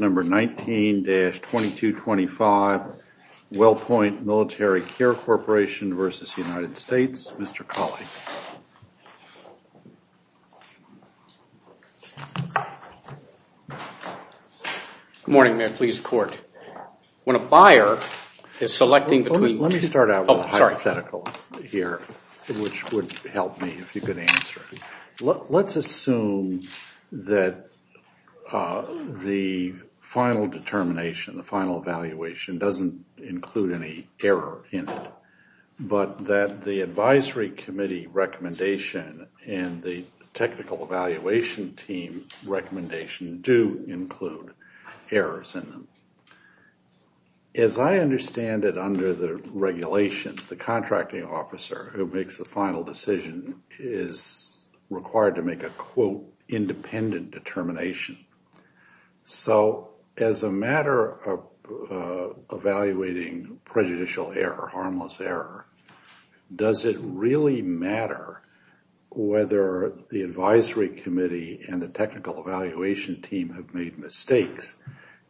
Number 19-2225, WellPoint Military Care Corporation v. United States, Mr. Cawley. Good morning, Mayor. Please, court. When a buyer is selecting between... Let me start out with a hypothetical here, which would help me if you could answer. Let's assume that the final determination, the final evaluation doesn't include any error in it, but that the advisory committee recommendation and the technical evaluation team recommendation do include errors in them. As I understand it under the regulations, the contracting officer who makes the final decision is required to make a, quote, independent determination. So as a matter of evaluating prejudicial error, harmless error, does it really matter whether the advisory committee and the technical evaluation team have made mistakes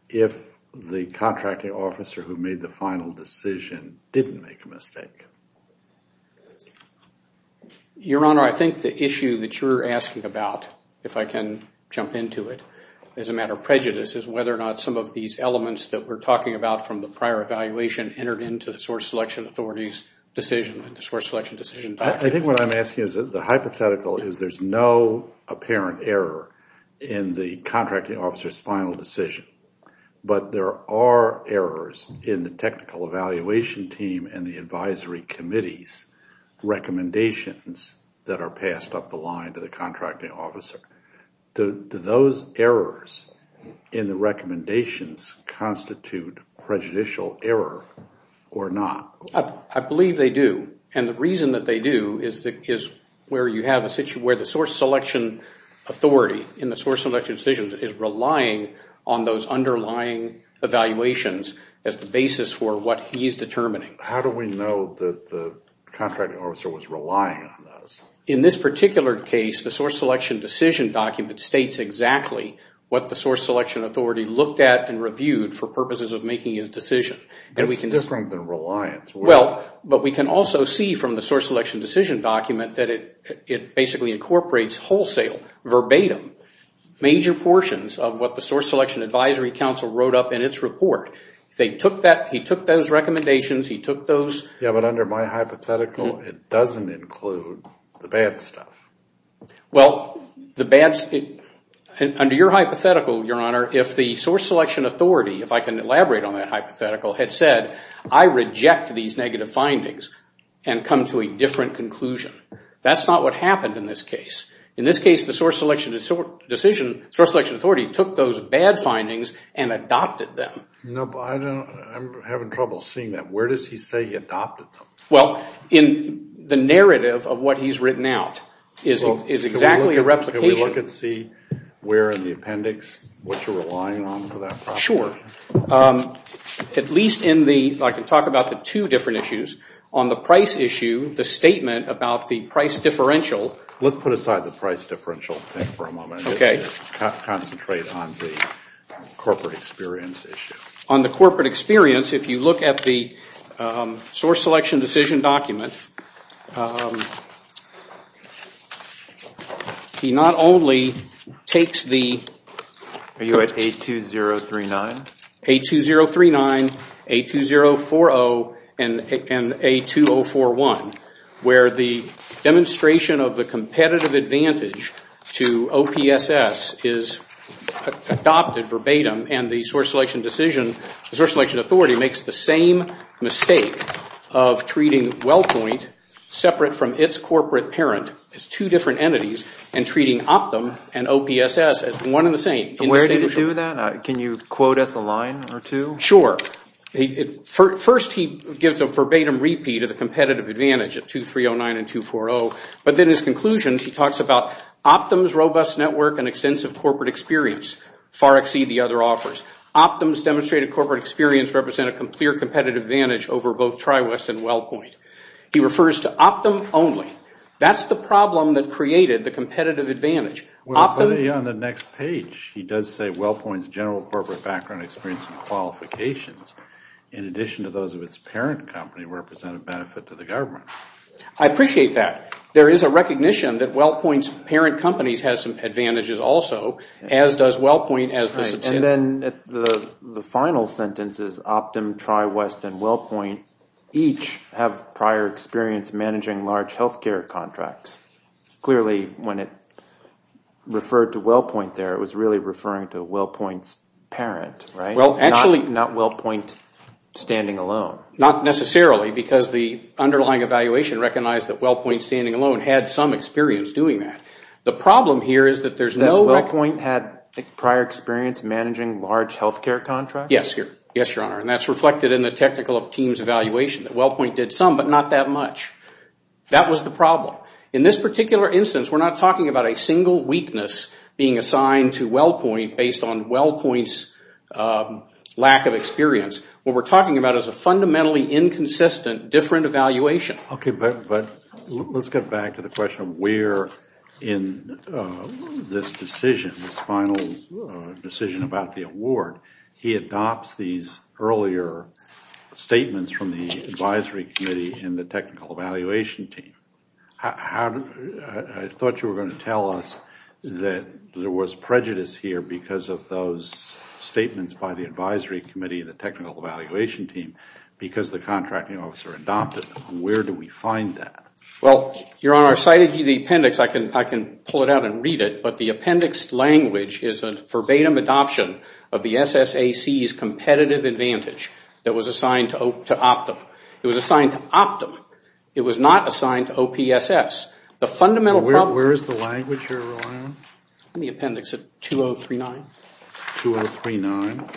if the contracting officer who made the final decision didn't make a mistake? Your Honor, I think the issue that you're asking about, if I can jump into it, as a matter of prejudice, is whether or not some of these elements that we're talking about from the prior evaluation entered into the source selection authority's decision, the source selection decision document. I think what I'm asking is that the hypothetical is there's no apparent error in the contracting officer's final decision, but there are errors in the technical evaluation team and the advisory committee's recommendations that are passed up the line to the contracting officer. Do those errors in the recommendations constitute prejudicial error or not? I believe they do, and the reason that they do is where you have a situation where the source selection authority in the source selection decisions is relying on those underlying evaluations as the basis for what he's determining. How do we know that the contracting officer was relying on those? In this particular case, the source selection decision document states exactly what the source selection authority looked at and reviewed for purposes of making his decision. That's different than reliance. Well, but we can also see from the source selection decision document that it basically incorporates wholesale, verbatim, major portions of what the source selection advisory council wrote up in its report. He took those recommendations, he took those... Yeah, but under my hypothetical, it doesn't include the bad stuff. Well, under your hypothetical, your honor, if the source selection authority, if I can elaborate on that hypothetical, had said, I reject these negative findings and come to a different conclusion. That's not what happened in this case. In this case, the source selection authority took those bad findings and adopted them. No, but I'm having trouble seeing that. Where does he say he adopted them? Well, in the narrative of what he's written out is exactly a replication. Can we look and see where in the appendix what you're relying on for that process? Sure. At least in the... I can talk about the two different issues. On the price issue, the statement about the price differential... Let's put aside the price differential thing for a moment and just concentrate on the corporate experience issue. On the corporate experience, if you look at the source selection decision document, he not only takes the... Are you at A2039? A2039, A2040, and A2041, where the demonstration of the competitive advantage to OPSS is adopted verbatim and the source selection decision, the source selection authority makes the same mistake of treating WellPoint separate from its corporate parent as two different entities and treating Optum and OPSS as one and the same. Where did he do that? Can you quote us a line or two? Sure. First, he gives a verbatim repeat of the competitive advantage at A2309 and A240, but then his conclusion, he talks about Optum's robust network and extensive corporate experience far exceed the other offers. Optum's demonstrated corporate experience represent a clear competitive advantage over both TriWest and WellPoint. He refers to Optum only. That's the problem that created the competitive advantage. On the next page, he does say WellPoint's general corporate background experience and qualifications, in addition to those of its parent company, represent a benefit to the government. I appreciate that. There is a recognition that WellPoint's parent companies have some advantages also, as does WellPoint as the subsidiary. And then the final sentence is Optum, TriWest, and WellPoint each have prior experience managing large health care contracts. Clearly, when it referred to WellPoint there, it was really referring to WellPoint's parent, right? Well, actually... Not WellPoint standing alone. Not necessarily, because the underlying evaluation recognized that WellPoint standing alone had some experience doing that. The problem here is that there's no... That WellPoint had prior experience managing large health care contracts? Yes, your honor. And that's reflected in the technical of team's evaluation, that WellPoint did some, but not that much. That was the problem. In this particular instance, we're not talking about a single weakness being assigned to WellPoint based on WellPoint's lack of experience. What we're talking about is a fundamentally inconsistent different evaluation. Okay, but let's get back to the question of where in this decision, this final decision about the award, he adopts these earlier statements from the advisory committee and the technical evaluation team. I thought you were going to tell us that there was prejudice here because of those statements by the advisory committee and the technical evaluation team, because the contracting officer adopted them. Where do we find that? Well, your honor, cited in the appendix, I can pull it out and read it, but the appendix language is a verbatim adoption of the SSAC's competitive advantage that was assigned to Optum. It was assigned to Optum. It was not assigned to OPSS. The fundamental problem... Where is the language you're relying on? In the appendix at 2039. 2039.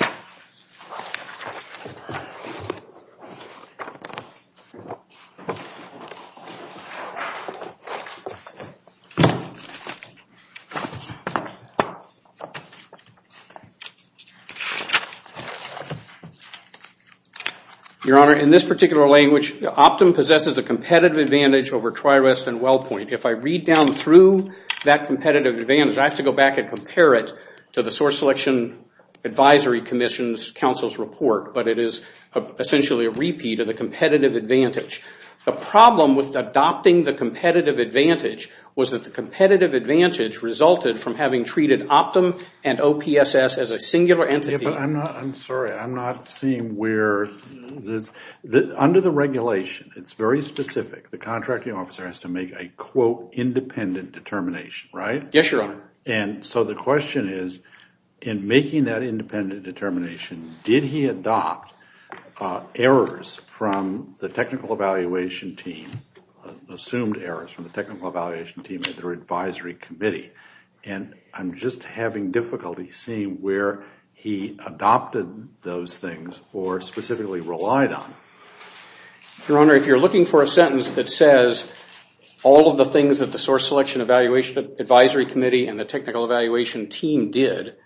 Your honor, in this particular language, Optum possesses the competitive advantage over TriREST and WellPoint. If I read down through that competitive advantage, I have to go back and compare it to the source selection advisory commission's counsel's report, but it is essentially a repeat of the competitive advantage. The problem with adopting the competitive advantage was that the competitive advantage resulted from having treated Optum and OPSS as a singular entity. I'm sorry. I'm not seeing where... Under the regulation, it's very specific. The contracting officer has to make a, quote, independent determination, right? Yes, your honor. So the question is, in making that independent determination, did he adopt errors from the technical evaluation team, assumed errors from the technical evaluation team at their advisory committee? I'm just having difficulty seeing where he adopted those things or specifically relied on. Your honor, if you're looking for a sentence that says, all of the things that the source selection advisory committee and the technical evaluation team did,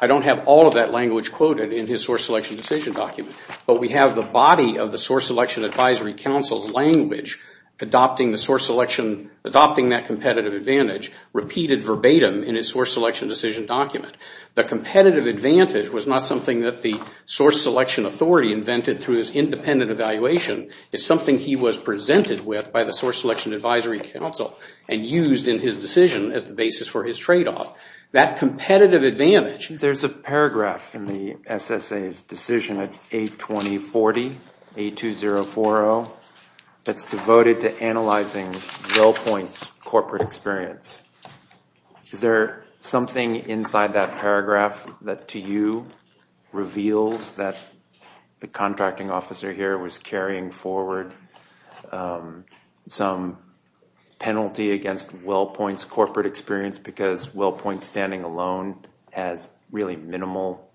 I don't have all of that language quoted in his source selection decision document, but we have the body of the source selection advisory counsel's language adopting the source selection, adopting that competitive advantage, repeated verbatim in his source selection decision document. The competitive advantage was not something that the source selection authority invented through his independent evaluation. It's something he was presented with by the source selection advisory counsel and used in his decision as the basis for his tradeoff. That competitive advantage... There's a paragraph in the SSA's decision at 820.40, 820.40, that's devoted to analyzing Bill Point's corporate experience. Is there something inside that paragraph that, to you, reveals that the contracting officer here was carrying forward some penalty against Bill Point's corporate experience because Bill Point standing alone has really minimal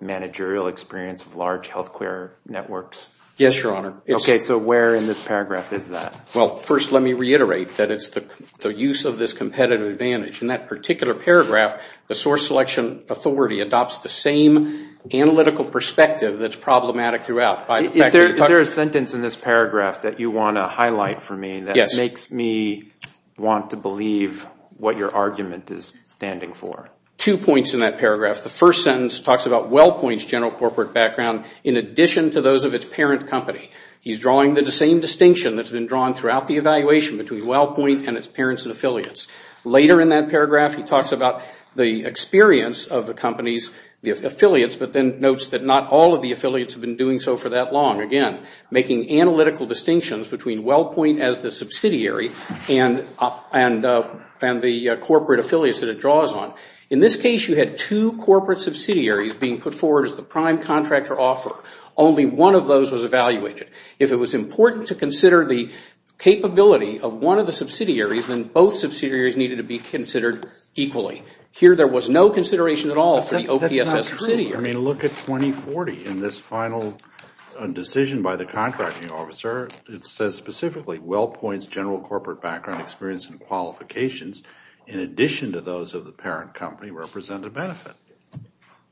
managerial experience of large health care networks? Yes, your honor. Okay, so where in this paragraph is that? Well, first let me reiterate that it's the use of this competitive advantage. In that particular paragraph, the source selection authority adopts the same analytical perspective that's problematic throughout. Is there a sentence in this paragraph that you want to highlight for me that makes me want to believe what your argument is standing for? Two points in that paragraph. The first sentence talks about Will Point's general corporate background in addition to those of its parent company. He's drawing the same distinction that's been drawn throughout the evaluation between Will Point and its parents and affiliates. Later in that paragraph, he talks about the experience of the company's affiliates, but then notes that not all of the affiliates have been doing so for that long. Again, making analytical distinctions between Will Point as the subsidiary and the corporate affiliates that it draws on. In this case, you had two corporate subsidiaries being put forward as the prime contractor offer. Only one of those was evaluated. If it was important to consider the capability of one of the subsidiaries, then both subsidiaries needed to be considered equally. Here, there was no consideration at all for the OPSS subsidiary. Look at 2040 in this final decision by the contracting officer. It says specifically, Will Point's general corporate background experience and qualifications in addition to those of the parent company represent a benefit.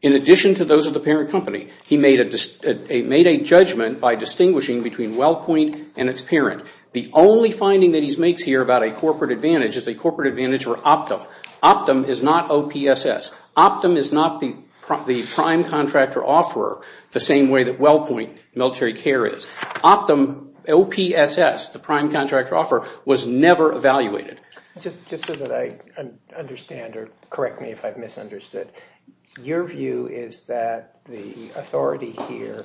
In addition to those of the parent company, he made a judgment by distinguishing between Will Point and its parent. The only finding that he makes here about a corporate advantage is a corporate advantage for Optum. Optum is not OPSS. Optum is not the prime contractor offeror the same way that Will Point Military Care is. Optum, OPSS, the prime contractor offeror, was never evaluated. Just so that I understand or correct me if I've misunderstood, your view is that the authority here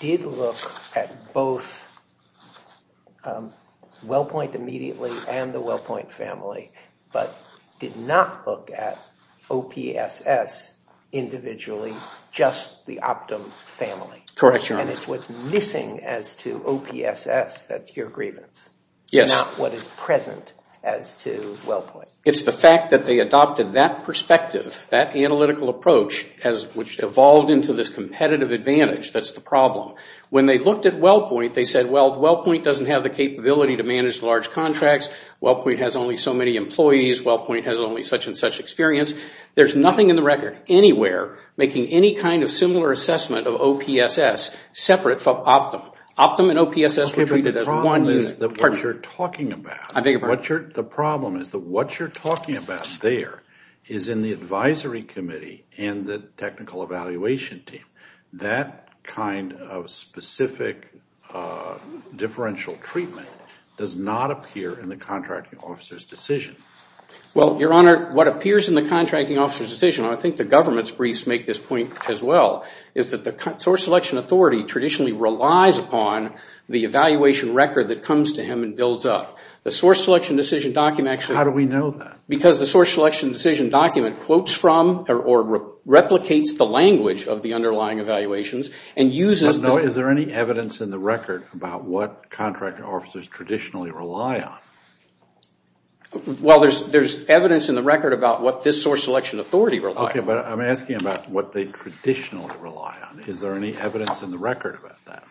did look at both Will Point immediately and the Will Point family, but did not look at OPSS individually, just the Optum family. Correct, Your Honor. And it's what's missing as to OPSS that's your grievance, not what is present as to Will Point. It's the fact that they adopted that perspective, that analytical approach, which evolved into this competitive advantage that's the problem. When they looked at Will Point, they said, well, Will Point doesn't have the capability to manage large contracts. Will Point has only so many employees. Will Point has only such and such experience. There's nothing in the record anywhere making any kind of similar assessment of OPSS separate from Optum. Optum and OPSS were treated as one unit. The problem is that what you're talking about there is in the advisory committee and the technical evaluation team. That kind of specific differential treatment does not appear in the contracting officer's decision. Well, Your Honor, what appears in the contracting officer's decision, and I think the government's briefs make this point as well, is that the source selection authority traditionally relies upon the evaluation record that comes to him and builds up. The source selection decision document actually... How do we know that? Because the source selection decision document quotes from or replicates the language of the underlying evaluations and uses... No, is there any evidence in the record about what contracting officers traditionally rely on? Well, there's evidence in the record about what this source selection authority relies on. Okay, but I'm asking about what they traditionally rely on. Is there any evidence in the record about that?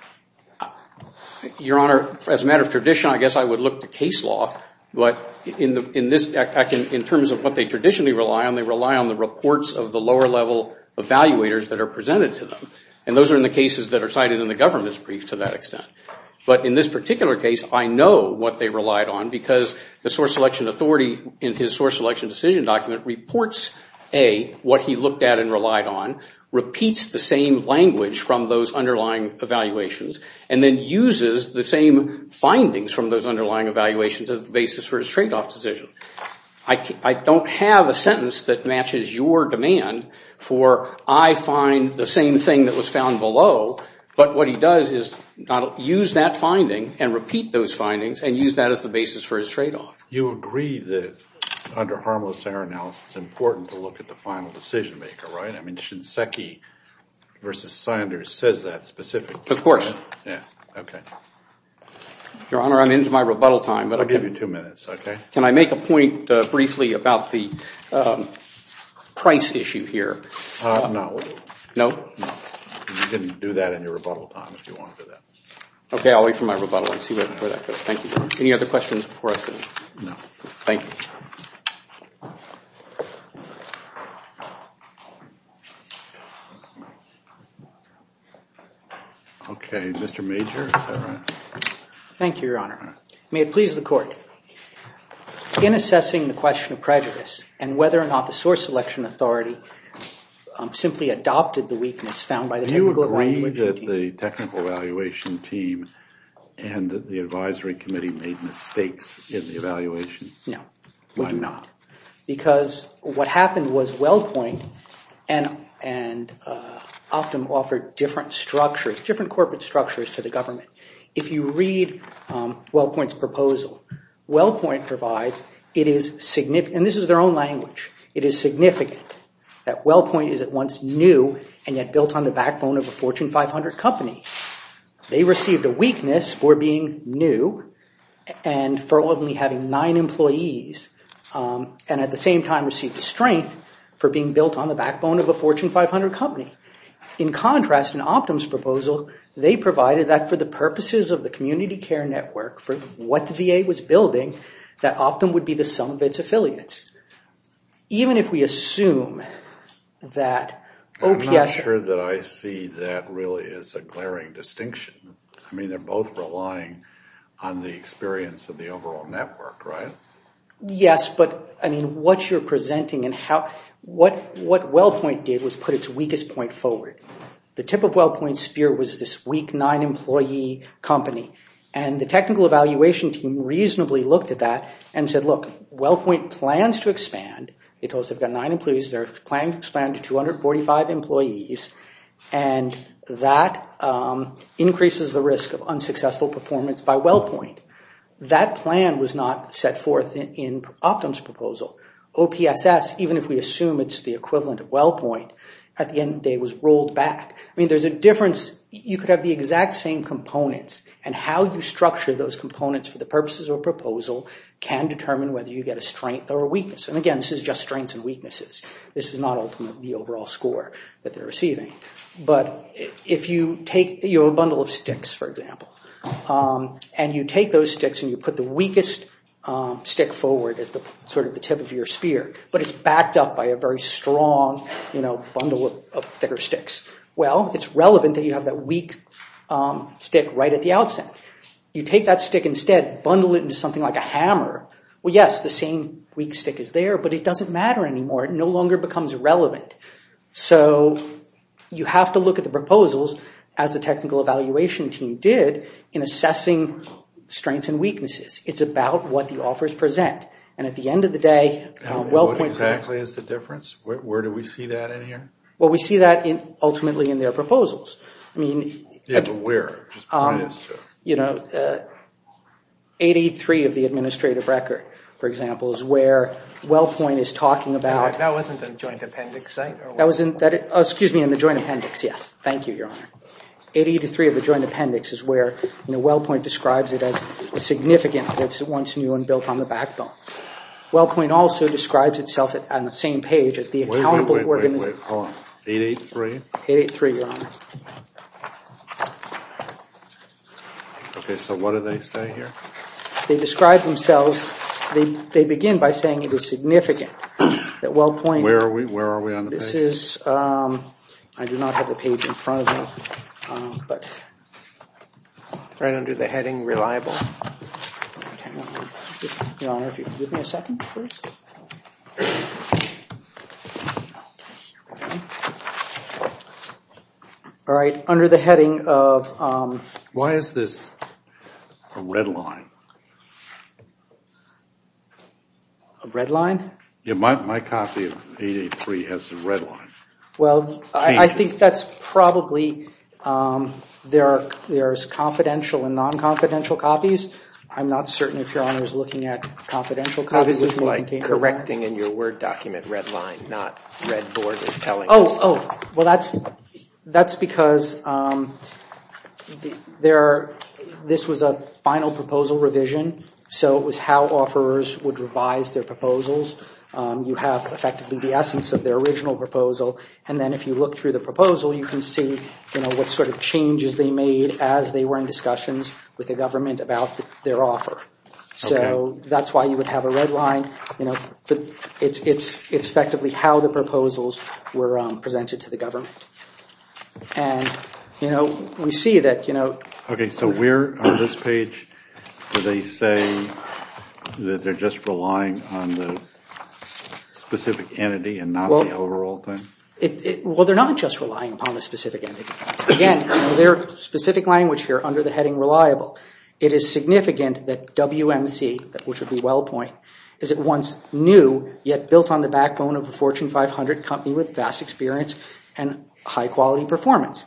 Your Honor, as a matter of tradition, I guess I would look to case law, but in terms of what they traditionally rely on, they rely on the reports of the lower level evaluators that are presented to them, and those are in the cases that are cited in the government's brief to that extent. But in this particular case, I know what they relied on because the source selection authority in his source selection decision document reports, A, what he looked at and relied on, repeats the same language from those underlying evaluations, and then uses the same findings from those underlying evaluations as the basis for his tradeoff decision. I don't have a sentence that matches your demand for, I find the same thing that was found below, but what he does is use that finding and repeat those findings and use that as the basis for his tradeoff. You agree that under harmless error analysis, it's important to look at the final decision maker, right? I mean, Shinseki v. Sanders says that specifically. Of course. Yeah, okay. Your Honor, I'm into my rebuttal time, but... I'll give you two minutes, okay? Can I make a point briefly about the price issue here? No. No? You can do that in your rebuttal time if you want to do that. Okay, I'll wait for my rebuttal and see where that goes. Thank you, Your Honor. Any other questions before I sit down? No. Thank you. Okay, Mr. Major, is that right? Thank you, Your Honor. May it please the Court. In assessing the question of prejudice and whether or not the source selection authority simply adopted the weakness found by the technical evaluation team... Do you agree that the technical evaluation team and the advisory committee made mistakes in the evaluation? No. Why not? Because what happened was WellPoint and Optum offered different corporate structures to the government. If you read WellPoint's proposal, WellPoint provides it is significant... And this is their own language. It is significant that WellPoint is at once new and yet built on the backbone of a Fortune 500 company. They received a weakness for being new and for only having nine employees and at the same time received a strength for being built on the backbone of a Fortune 500 company. In contrast, in Optum's proposal, they provided that for the purposes of the community care network, for what the VA was building, that Optum would be the sum of its affiliates. Even if we assume that OPS... I'm not sure that I see that really as a glaring distinction. I mean, they're both relying on the experience of the overall network, right? Yes, but I mean, what you're presenting and how... What WellPoint did was put its weakest point forward. The tip of WellPoint's spear was this weak nine-employee company and the technical evaluation team reasonably looked at that and said, look, WellPoint plans to expand. They told us they've got nine employees. They're planning to expand to 245 employees and that increases the risk of unsuccessful performance by WellPoint. That plan was not set forth in Optum's proposal. OPSS, even if we assume it's the equivalent of WellPoint, at the end of the day was rolled back. I mean, there's a difference. You could have the exact same components and how you structure those components for the purposes of a proposal can determine whether you get a strength or a weakness. And again, this is just strengths and weaknesses. This is not ultimately the overall score that they're receiving. But if you take a bundle of sticks, for example, and you take those sticks and you put the But it's backed up by a very strong bundle of thicker sticks. Well, it's relevant that you have that weak stick right at the outset. You take that stick instead, bundle it into something like a hammer. Well, yes, the same weak stick is there, but it doesn't matter anymore. It no longer becomes relevant. So you have to look at the proposals as the technical evaluation team did in assessing strengths and weaknesses. It's about what the offers present. And at the end of the day, WellPoint What exactly is the difference? Where do we see that in here? Well, we see that ultimately in their proposals. I mean, 83 of the administrative record, for example, is where WellPoint is talking about That wasn't a joint appendix site? That wasn't, excuse me, in the joint appendix. Yes. Thank you, Your Honor. 83 of the joint appendix is where WellPoint describes it as significant. It's a once new and built on the backbone. WellPoint also describes itself on the same page as the accountable Wait, wait, wait, hold on. 883? 883, Your Honor. Okay, so what do they say here? They describe themselves, they begin by saying it is significant that WellPoint Where are we? Where are we on the page? This is, I do not have the page in front of me, but Right under the heading reliable. Your Honor, if you could give me a second, please. All right, under the heading of Why is this a red line? A red line? Yeah, my copy of 883 has a red line. Well, I think that's probably There's confidential and non-confidential copies. I'm not certain if Your Honor is looking at confidential copies. This is like correcting in your Word document red line, not red board and telling us. Oh, oh, well, that's because this was a final proposal revision. So it was how offerors would revise their proposals. You have effectively the essence of their original proposal. And then if you look through the proposal, you can see, you know, what sort of changes they made as they were in discussions with the government about their offer. So that's why you would have a red line. You know, it's effectively how the proposals were presented to the government. And, you know, we see that, you know. Okay, so where on this page do they say that they're just relying on the specific entity and not the overall thing? Well, they're not just relying upon a specific entity. Again, their specific language here under the heading reliable. It is significant that WMC, which would be WellPoint, is at once new yet built on the backbone of a Fortune 500 company with vast experience and high quality performance.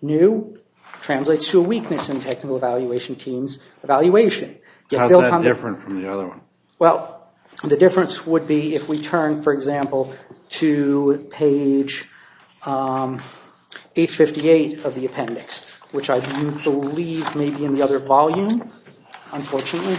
New translates to a weakness in technical evaluation teams evaluation. How's that different from the other one? Well, the difference would be if we turn, for example, to page 858 of the appendix, which I believe may be in the other volume, unfortunately.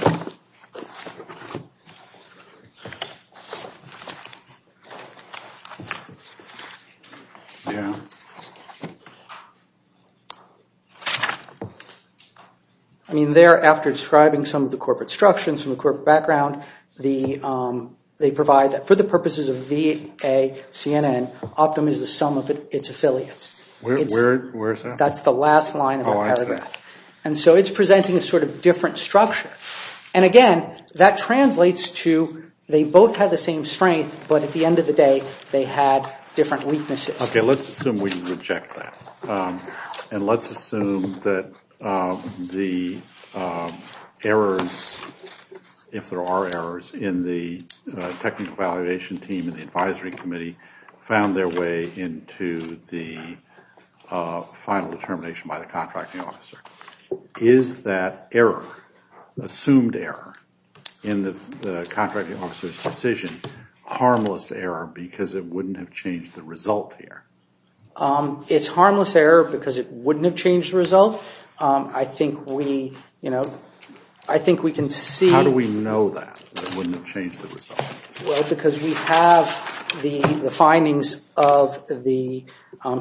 I mean, there, after describing some of the corporate structures and the corporate background, they provide that for the purposes of VACNN, Optum is the sum of its affiliates. That's the last line of the paragraph. And so it's presenting a sort of different structure. And again, that translates to they both had the same strength, but at the end of the day, they had different weaknesses. Okay, let's assume we reject that. And let's assume that the errors, if there are errors, in the technical evaluation team and the advisory committee found their way into the final determination by the contracting officer. Is that error, assumed error, in the contracting officer's decision harmless error because it wouldn't have changed the result here? It's harmless error because it wouldn't have changed the result. I think we, you know, I think we can see... How do we know that it wouldn't have changed the result? Well, because we have the findings of the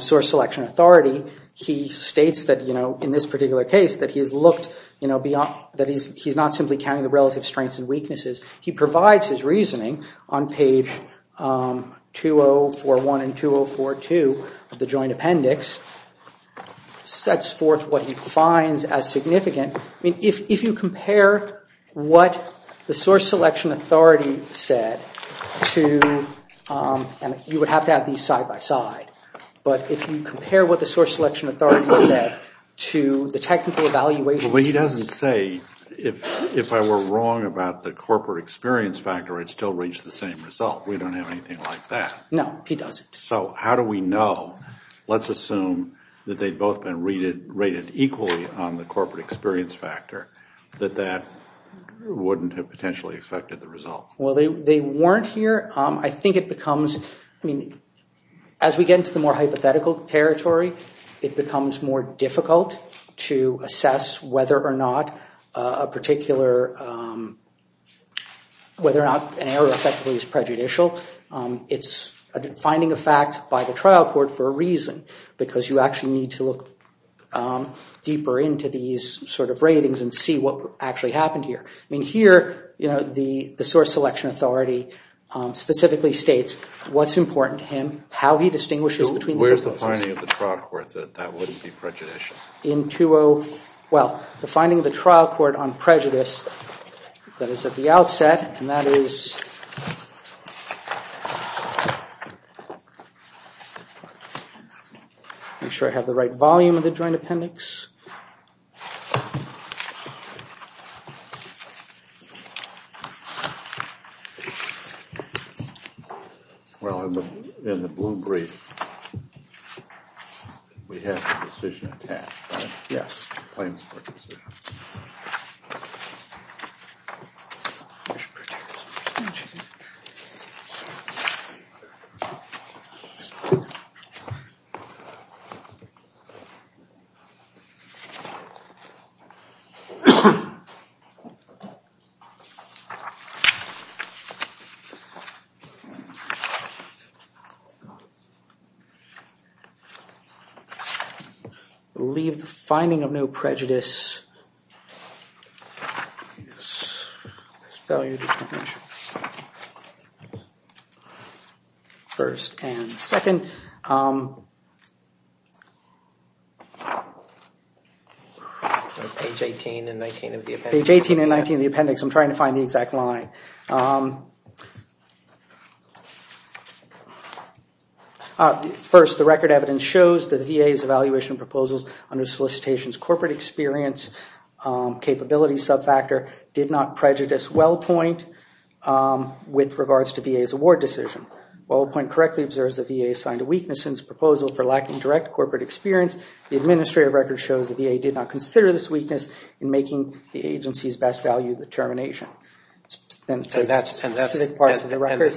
source selection authority. He states that, you know, in this particular case that he has looked, you know, beyond... That he's not simply counting the relative strengths and weaknesses. He provides his reasoning on page 2041 and 2042 of the joint appendix. Sets forth what he finds as significant. If you compare what the source selection authority said to... You would have to have these side by side. But if you compare what the source selection authority said to the technical evaluation... But he doesn't say, if I were wrong about the corporate experience factor, I'd still reach the same result. We don't have anything like that. No, he doesn't. So how do we know? Let's assume that they'd both been rated equally on the corporate experience factor. That that wouldn't have potentially affected the result. Well, they weren't here. I think it becomes... I mean, as we get into the more hypothetical territory, it becomes more difficult to assess whether or not a particular... Whether or not an error effectively is prejudicial. It's a finding of fact by the trial court for a reason. Because you actually need to look deeper into these sort of ratings and see what actually happened here. I mean, here, you know, the source selection authority specifically states what's important to him, how he distinguishes between... Where's the finding of the trial court that that wouldn't be prejudicial? In 20... And that is... Make sure I have the right volume of the joint appendix. Well, in the blue brief, we have the decision attached, right? Yes. Plains court decision. Prejudice. Leave the finding of no prejudice. Yes. First and second. Page 18 and 19 of the appendix. Page 18 and 19 of the appendix. I'm trying to find the exact line. First, the record evidence shows that the VA's evaluation proposals under solicitation's corporate experience capability subfactor did not prejudice WellPoint with regards to VA's award decision. WellPoint correctly observes the VA assigned a weakness in its proposal for lacking direct corporate experience. The administrative record shows the VA did not consider this weakness in making the agency's best value determination. So that's specific parts of the record.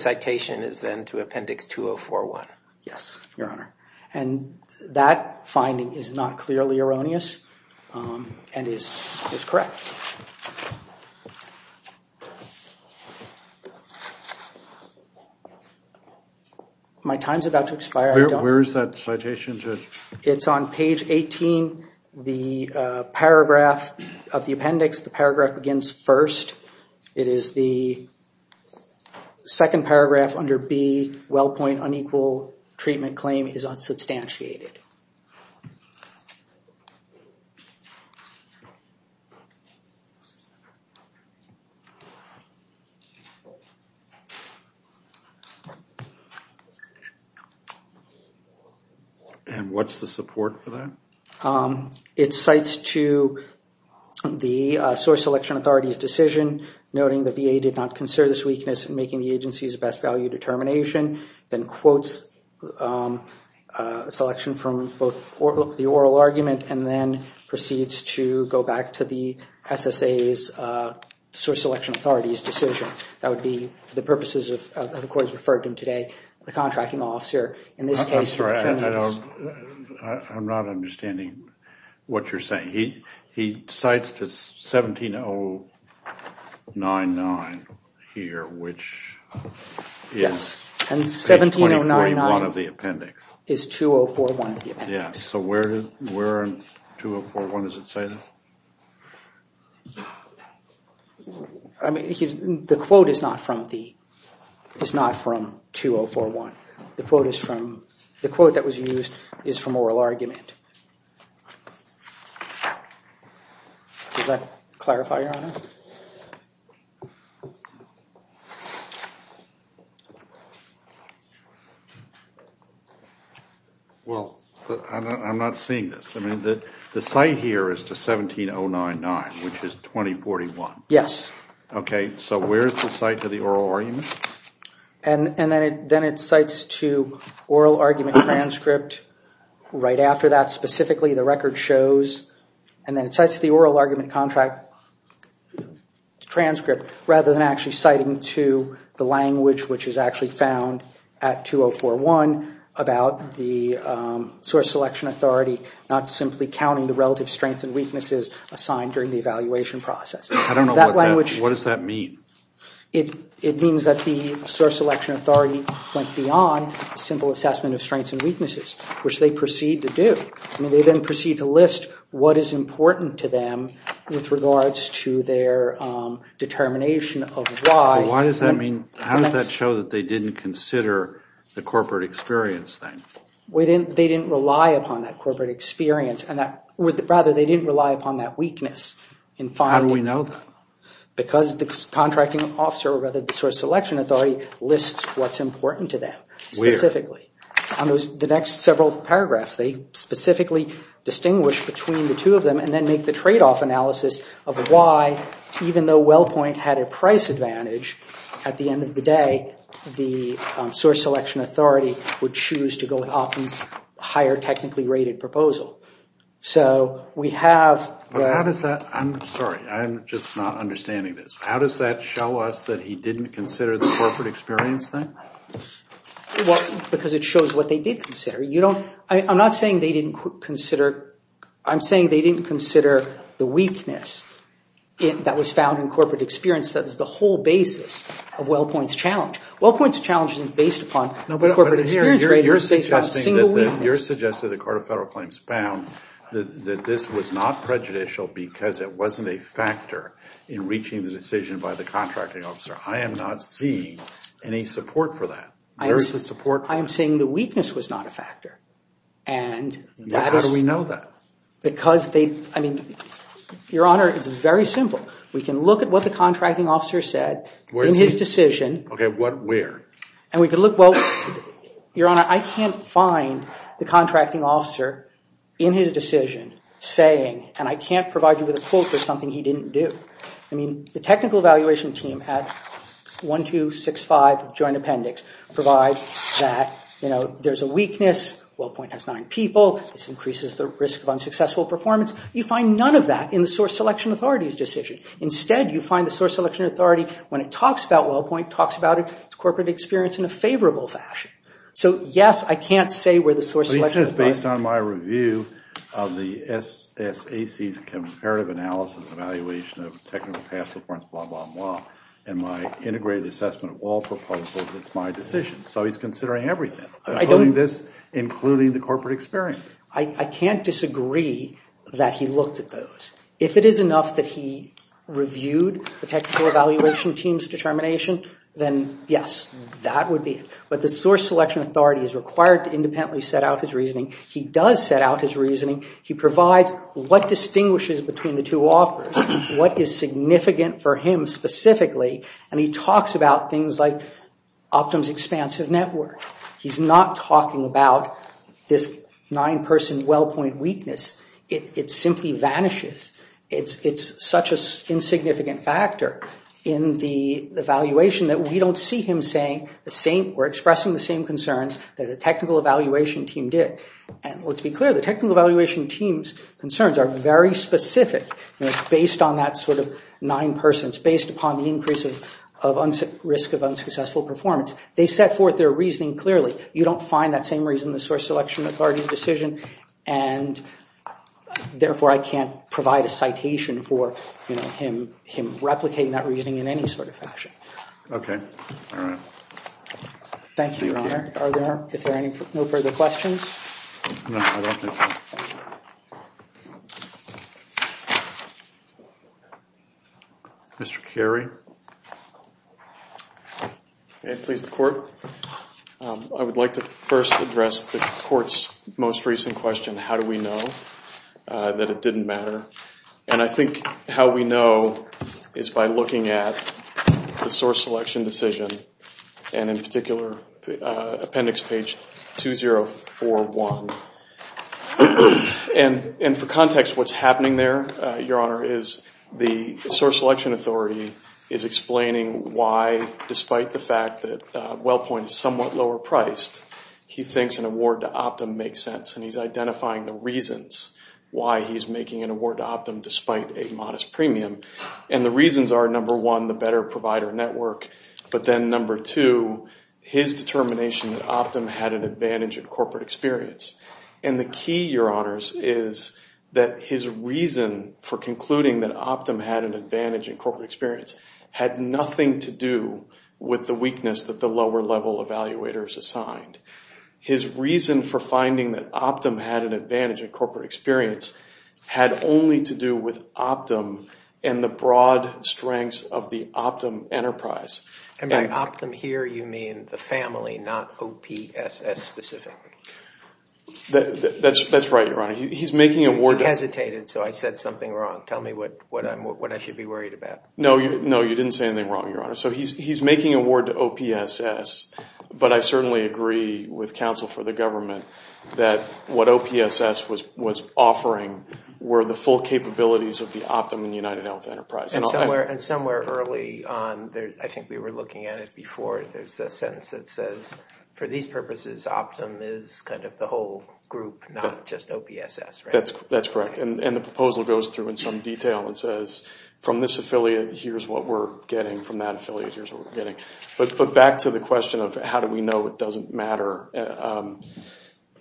Yes, Your Honor. And that finding is not clearly erroneous and is correct. My time's about to expire. Where is that citation, Judge? It's on page 18, the paragraph of the appendix. The paragraph begins first. It is the second paragraph under B, WellPoint unequal treatment claim is unsubstantiated. And what's the support for that? It cites to the source selection authority's decision, noting the VA did not consider this weakness in making the agency's best value determination, then quotes a selection from both the oral argument and then proceeds to go back to the SSA's source selection authority's decision. That would be the purposes of the court has referred to today, the contracting officer. In this case, I'm sorry, I'm not understanding what you're saying. He cites to 17099 here, which is 2041 of the appendix. It's 2041 of the appendix. Yeah, so where in 2041 does it say this? I mean, the quote is not from 2041. The quote that was used is from oral argument. Does that clarify, Your Honor? Well, I'm not seeing this. I mean, the cite here is to 17099, which is 2041. Yes. OK, so where's the cite to the oral argument? And then it cites to oral argument transcript right after that. Specifically, the record shows and then it cites the oral argument contract transcript rather than actually citing to the language, which is actually found at 2041 about the source selection authority, not simply counting the relative strengths and weaknesses assigned during the evaluation process. I don't know what that, what does that mean? It means that the source selection authority went beyond simple assessment of strengths and weaknesses, which they proceed to do. I mean, they then proceed to list what is important to them with regards to their determination of why. Why does that mean? How does that show that they didn't consider the corporate experience thing? They didn't rely upon that corporate experience and that, rather, they didn't rely upon that weakness. How do we know that? Because the contracting officer, or rather the source selection authority, lists what's important to them specifically. The next several paragraphs, they specifically distinguish between the two of them and then make the trade-off analysis of why, even though WellPoint had a price advantage, at the end of the day, the source selection authority would choose to go with Hopkins' higher technically rated proposal. So we have... But how does that, I'm sorry, I'm just not understanding this. How does that show us that he didn't consider the corporate experience thing? Well, because it shows what they did consider. You don't... I'm not saying they didn't consider... I'm saying they didn't consider the weakness that was found in corporate experience that is the whole basis of WellPoint's challenge. WellPoint's challenge isn't based upon the corporate experience rate, it's based on a single weakness. You're suggesting that the Court of Federal Claims found that this was not prejudicial because it wasn't a factor in reaching the decision by the contracting officer. I am not seeing any support for that. Where is the support? I am saying the weakness was not a factor. And that is... How do we know that? Because they... I mean, Your Honor, it's very simple. We can look at what the contracting officer said in his decision. Okay, what, where? And we can look, well, Your Honor, I can't find the contracting officer in his decision saying, and I can't provide you with a quote for something he didn't do. I mean, the technical evaluation team at 1265 Joint Appendix provides that, you know, there's a weakness. WellPoint has nine people. This increases the risk of unsuccessful performance. You find none of that in the Source Selection Authority's decision. Instead, you find the Source Selection Authority, when it talks about WellPoint, talks about its corporate experience in a favorable fashion. So, yes, I can't say where the Source Selection... It's based on my review of the SAC's comparative analysis evaluation of technical past performance, blah, blah, blah, and my integrated assessment of all proposals. It's my decision. So he's considering everything, including this, including the corporate experience. I can't disagree that he looked at those. If it is enough that he reviewed the technical evaluation team's determination, then yes, that would be it. But the Source Selection Authority is required to independently set out his reasoning. He does set out his reasoning. He provides what distinguishes between the two offers, what is significant for him specifically, and he talks about things like Optum's expansive network. He's not talking about this nine-person WellPoint weakness. It simply vanishes. It's such an insignificant factor in the evaluation that we don't see him saying, we're expressing the same concerns that the technical evaluation team did. And let's be clear, the technical evaluation team's concerns are very specific. You know, it's based on that sort of nine persons, based upon the increase of risk of unsuccessful performance. They set forth their reasoning clearly. You don't find that same reason in the Source Selection Authority's decision, and therefore, I can't provide a citation for him replicating that reasoning in any sort of fashion. Okay, all right. Thank you. Are there, if there are no further questions? No, I don't think so. Mr. Carey? Okay, please, the Court. I would like to first address the Court's most recent question, how do we know that it didn't matter? And I think how we know is by looking at the Source Selection Decision, and in particular, Appendix Page 2041. And for context, what's happening there, Your Honor, is the Source Selection Authority is explaining why, despite the fact that WellPoint is somewhat lower priced, he thinks an award to Optum makes sense. And he's identifying the reasons why he's making an award to Optum, despite a modest premium. And the reasons are, number one, the better provider network. But then, number two, his determination that Optum had an advantage in corporate experience. And the key, Your Honors, is that his reason for concluding that Optum had an advantage in corporate experience had nothing to do with the weakness that the lower-level evaluators assigned. His reason for finding that Optum had an advantage in corporate experience had only to do with Optum and the broad strengths of the Optum enterprise. And by Optum here, you mean the family, not OPSS specifically? That's right, Your Honor. He's making an award... I hesitated, so I said something wrong. Tell me what I should be worried about. No, you didn't say anything wrong, Your Honor. He's making an award to OPSS. But I certainly agree with counsel for the government that what OPSS was offering were the full capabilities of the Optum and UnitedHealth enterprise. And somewhere early on, I think we were looking at it before, there's a sentence that says, for these purposes, Optum is kind of the whole group, not just OPSS. That's correct. And the proposal goes through in some detail and says, from this affiliate, here's what we're getting. From that affiliate, here's what we're getting. But back to the question of how do we know it doesn't matter. At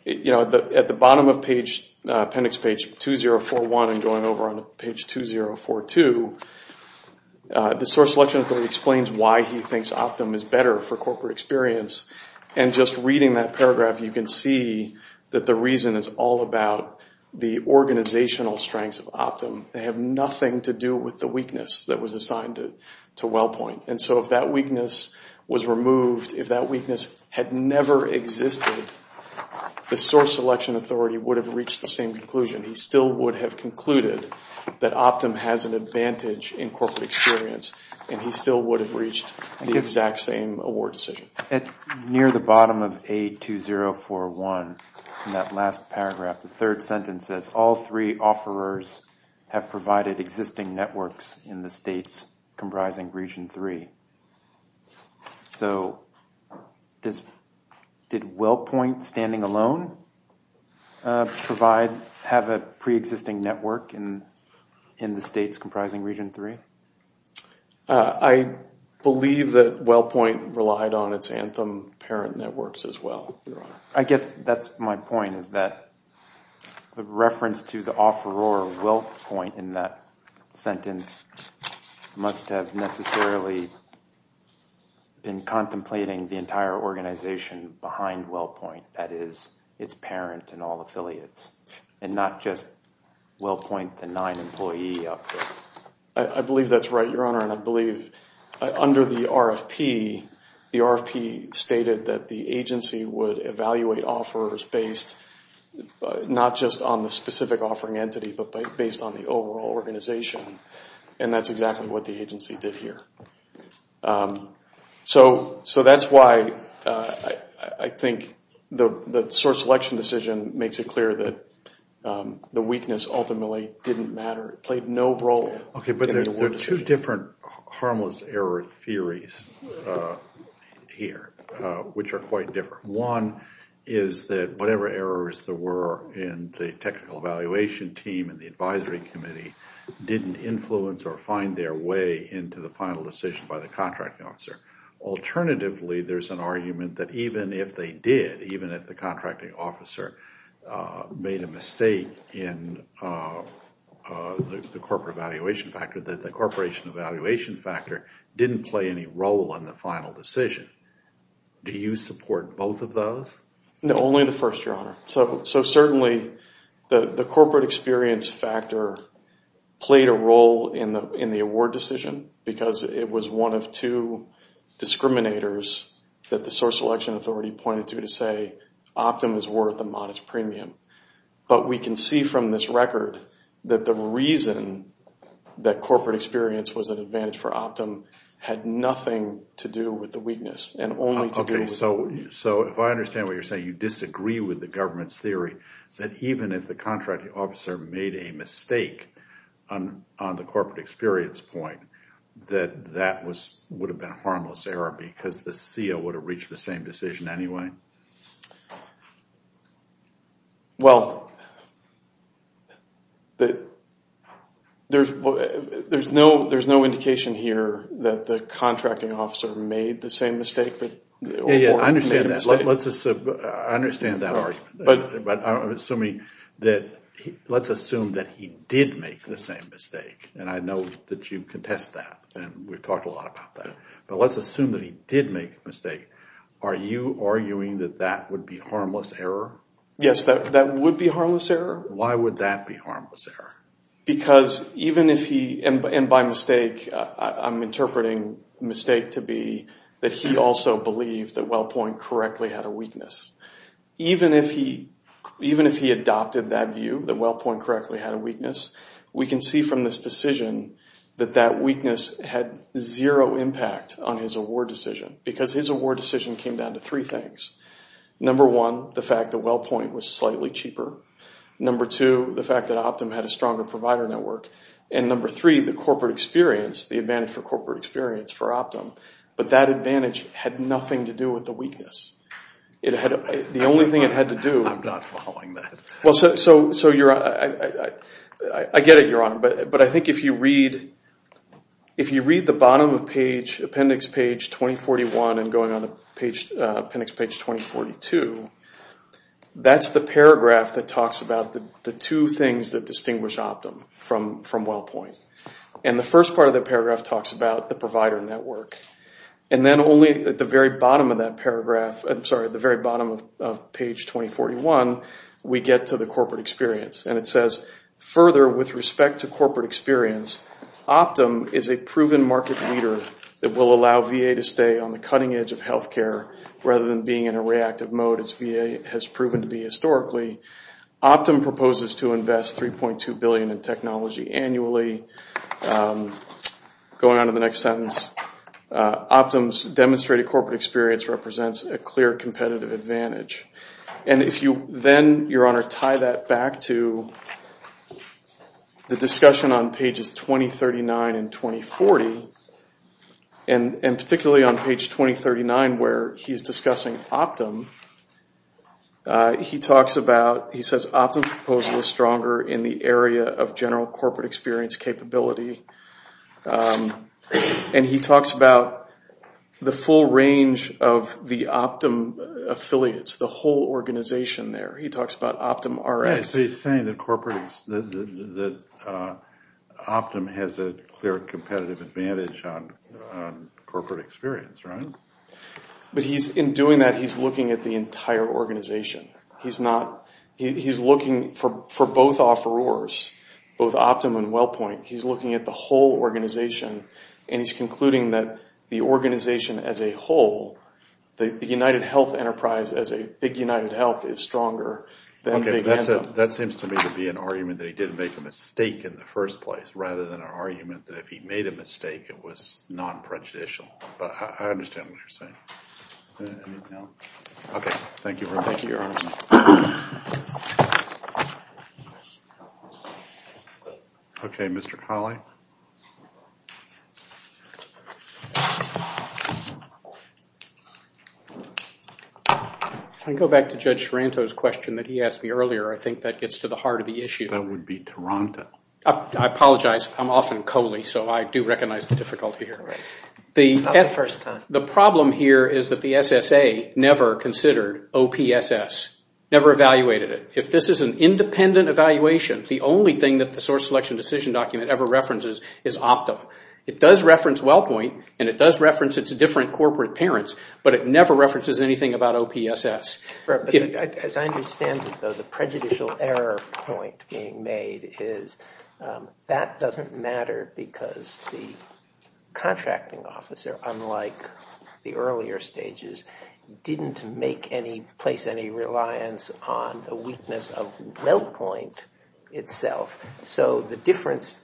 the bottom of appendix page 2041 and going over on page 2042, the source selection authority explains why he thinks Optum is better for corporate experience. And just reading that paragraph, you can see that the reason is all about the organizational strengths of Optum. They have nothing to do with the weakness that was assigned to WellPoint. And so if that weakness was removed, if that weakness had never existed, the source selection authority would have reached the same conclusion. He still would have concluded that Optum has an advantage in corporate experience, and he still would have reached the exact same award decision. Near the bottom of A2041, in that last paragraph, the third sentence says, all three offerers have provided existing networks in the states comprising Region 3. So did WellPoint, standing alone, have a pre-existing network in the states comprising Region 3? I believe that WellPoint relied on its Anthem parent networks as well, Your Honor. I guess that's my point, is that the reference to the offeror WellPoint in that sentence must have necessarily been contemplating the entire organization behind WellPoint, that is, its parent and all affiliates, and not just WellPoint, the nine-employee outfit. I believe that's right, Your Honor, and I believe under the RFP, the RFP stated that the agency would evaluate offerors based not just on the specific offering entity, but based on the overall organization, and that's exactly what the agency did here. So that's why I think the source selection decision makes it clear that the weakness ultimately didn't matter, played no role. Okay, but there were two different harmless error theories here, which are quite different. One is that whatever errors there were in the technical evaluation team and the advisory committee didn't influence or find their way into the final decision by the contracting officer. Alternatively, there's an argument that even if they did, even if the contracting officer made a mistake in the corporate evaluation factor, that the corporation evaluation factor didn't play any role in the final decision. Do you support both of those? No, only the first, Your Honor. So certainly, the corporate experience factor played a role in the award decision because it was one of two discriminators that the source selection authority pointed to to say Optum is worth a modest premium. But we can see from this record that the reason that corporate experience was an advantage for Optum had nothing to do with the weakness and only to do with... Okay, so if I understand what you're saying, you disagree with the government's theory that even if the contracting officer made a mistake on the corporate experience point, that that would have been a harmless error because the CEO would have reached the same decision anyway? Well, there's no indication here that the contracting officer made the same mistake. I understand that argument, but I'm assuming that let's assume that he did make the same mistake and I know that you contest that and we've talked a lot about how you make a mistake. Are you arguing that that would be harmless error? Yes, that would be harmless error. Why would that be harmless error? Because even if he... And by mistake, I'm interpreting mistake to be that he also believed that WellPoint correctly had a weakness. Even if he adopted that view, that WellPoint correctly had a weakness, we can see from this decision that that weakness had zero impact on his award decision because his award decision came down to three things. Number one, the fact that WellPoint was slightly cheaper. Number two, the fact that Optum had a stronger provider network. And number three, the corporate experience, the advantage for corporate experience for Optum, but that advantage had nothing to do with the weakness. The only thing it had to do... I'm not following that. Well, so I get it, Your Honor, but I think if you read the bottom of appendix page 2041 and going on appendix page 2042, that's the paragraph that talks about the two things that distinguish Optum from WellPoint. And the first part of that paragraph talks about the provider network. And then only at the very bottom of that paragraph, I'm sorry, at the very bottom of page 2041, we get to the corporate experience. And it says, further, with respect to corporate experience, Optum is a proven market leader that will allow VA to stay on the cutting edge of health care rather than being in a reactive mode, as VA has proven to be historically. Optum proposes to invest $3.2 billion in technology annually. Going on to the next sentence, Optum's demonstrated corporate experience represents a clear competitive advantage. And if you then, Your Honor, tie that back to the discussion on pages 2039 and 2040, and particularly on page 2039 where he's discussing Optum, he talks about, he says, Optum's proposal is stronger in the area of general corporate experience capability. And he talks about the full range of the Optum affiliates, the whole organization there. He talks about Optum RX. He's saying that Optum has a clear competitive advantage on corporate experience, right? But he's, in doing that, he's looking at the entire organization. He's not, he's looking for both offerors, both Optum and WellPoint. He's looking at the whole organization, and he's concluding that the organization as a whole, the United Health enterprise as a big United Health, is stronger than Big Anthem. Okay, that seems to me to be an argument that he didn't make a mistake in the first place, rather than an argument that if he made a mistake, it was non-prejudicial. But I understand what you're saying. Okay, thank you. Thank you, Your Honor. Okay, Mr. Colley. If I go back to Judge Sorrento's question that he asked me earlier, I think that gets to the heart of the issue. That would be Toronto. I apologize, I'm often Coley, so I do recognize the difficulty here. The problem here is that the SSA never considered OPSS, never evaluated it. If this is an independent evaluation, the only thing that the source selection decision document ever references is Optum. It does reference WellPoint, and it does reference its different corporate parents, but it never references anything about OPSS. As I understand it, though, the prejudicial error point being made is that doesn't matter because the contracting officer, unlike the earlier stages, didn't place any reliance on the weakness of WellPoint itself. So the difference,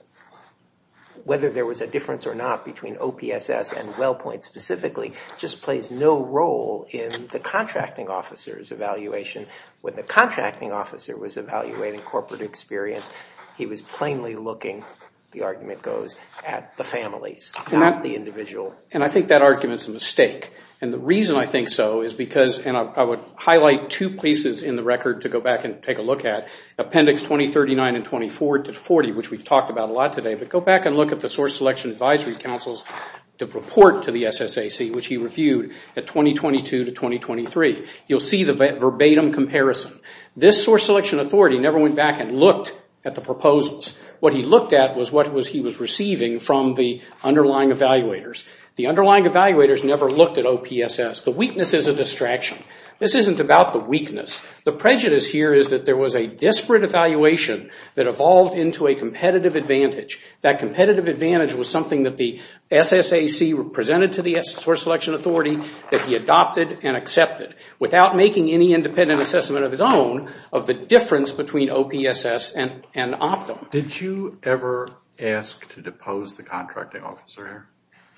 whether there was a difference or not between OPSS and WellPoint specifically, just plays no role in the contracting officer's evaluation. When the contracting officer was evaluating corporate experience, he was plainly looking, the argument goes, at the families, not the individual. And I think that argument's a mistake. And the reason I think so is because, and I would highlight two places in the record to go back and take a look at, Appendix 2039 and 24 to 40, which we've talked about a lot today, but go back and look at the source selection advisory to report to the SSAC, which he reviewed at 2022 to 2023. You'll see the verbatim comparison. This source selection authority never went back and looked at the proposals. What he looked at was what he was receiving from the underlying evaluators. The underlying evaluators never looked at OPSS. The weakness is a distraction. This isn't about the weakness. The prejudice here is that there was a disparate evaluation that evolved into a competitive advantage. That competitive advantage was something that the SSAC presented to the source selection authority that he adopted and accepted without making any independent assessment of his own of the difference between OPSS and Optum. Did you ever ask to depose the contracting officer?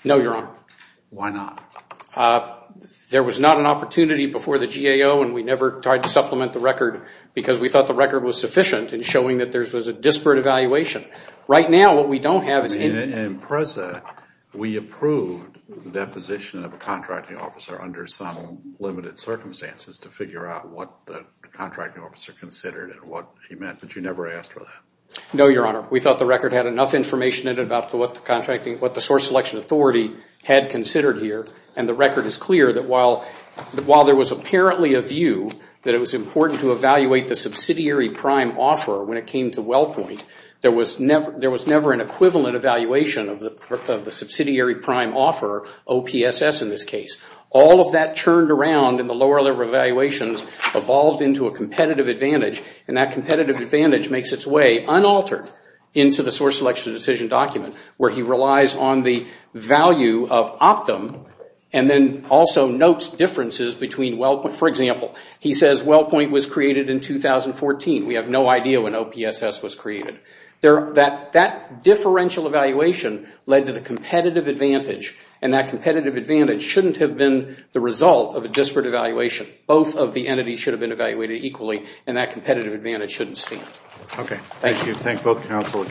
No, Your Honor. Why not? There was not an opportunity before the GAO and we never tried to supplement the record because we thought the record was sufficient in showing that there In PRESA, we approved the deposition of a contracting officer under some limited circumstances to figure out what the contracting officer considered and what he meant, but you never asked for that? No, Your Honor. We thought the record had enough information about what the source selection authority had considered here. The record is clear that while there was apparently a view that it was important to evaluate the subsidiary prime offer when it equivalent evaluation of the subsidiary prime offer, OPSS in this case, all of that churned around in the lower level evaluations evolved into a competitive advantage and that competitive advantage makes its way unaltered into the source selection decision document where he relies on the value of Optum and then also notes differences between WellPoint. For example, he says WellPoint was created in 2014. We have no idea when OPSS was created. That differential evaluation led to the competitive advantage and that competitive advantage shouldn't have been the result of a disparate evaluation. Both of the entities should have been evaluated equally and that competitive advantage shouldn't stand. Okay, thank you. Thank both counsel.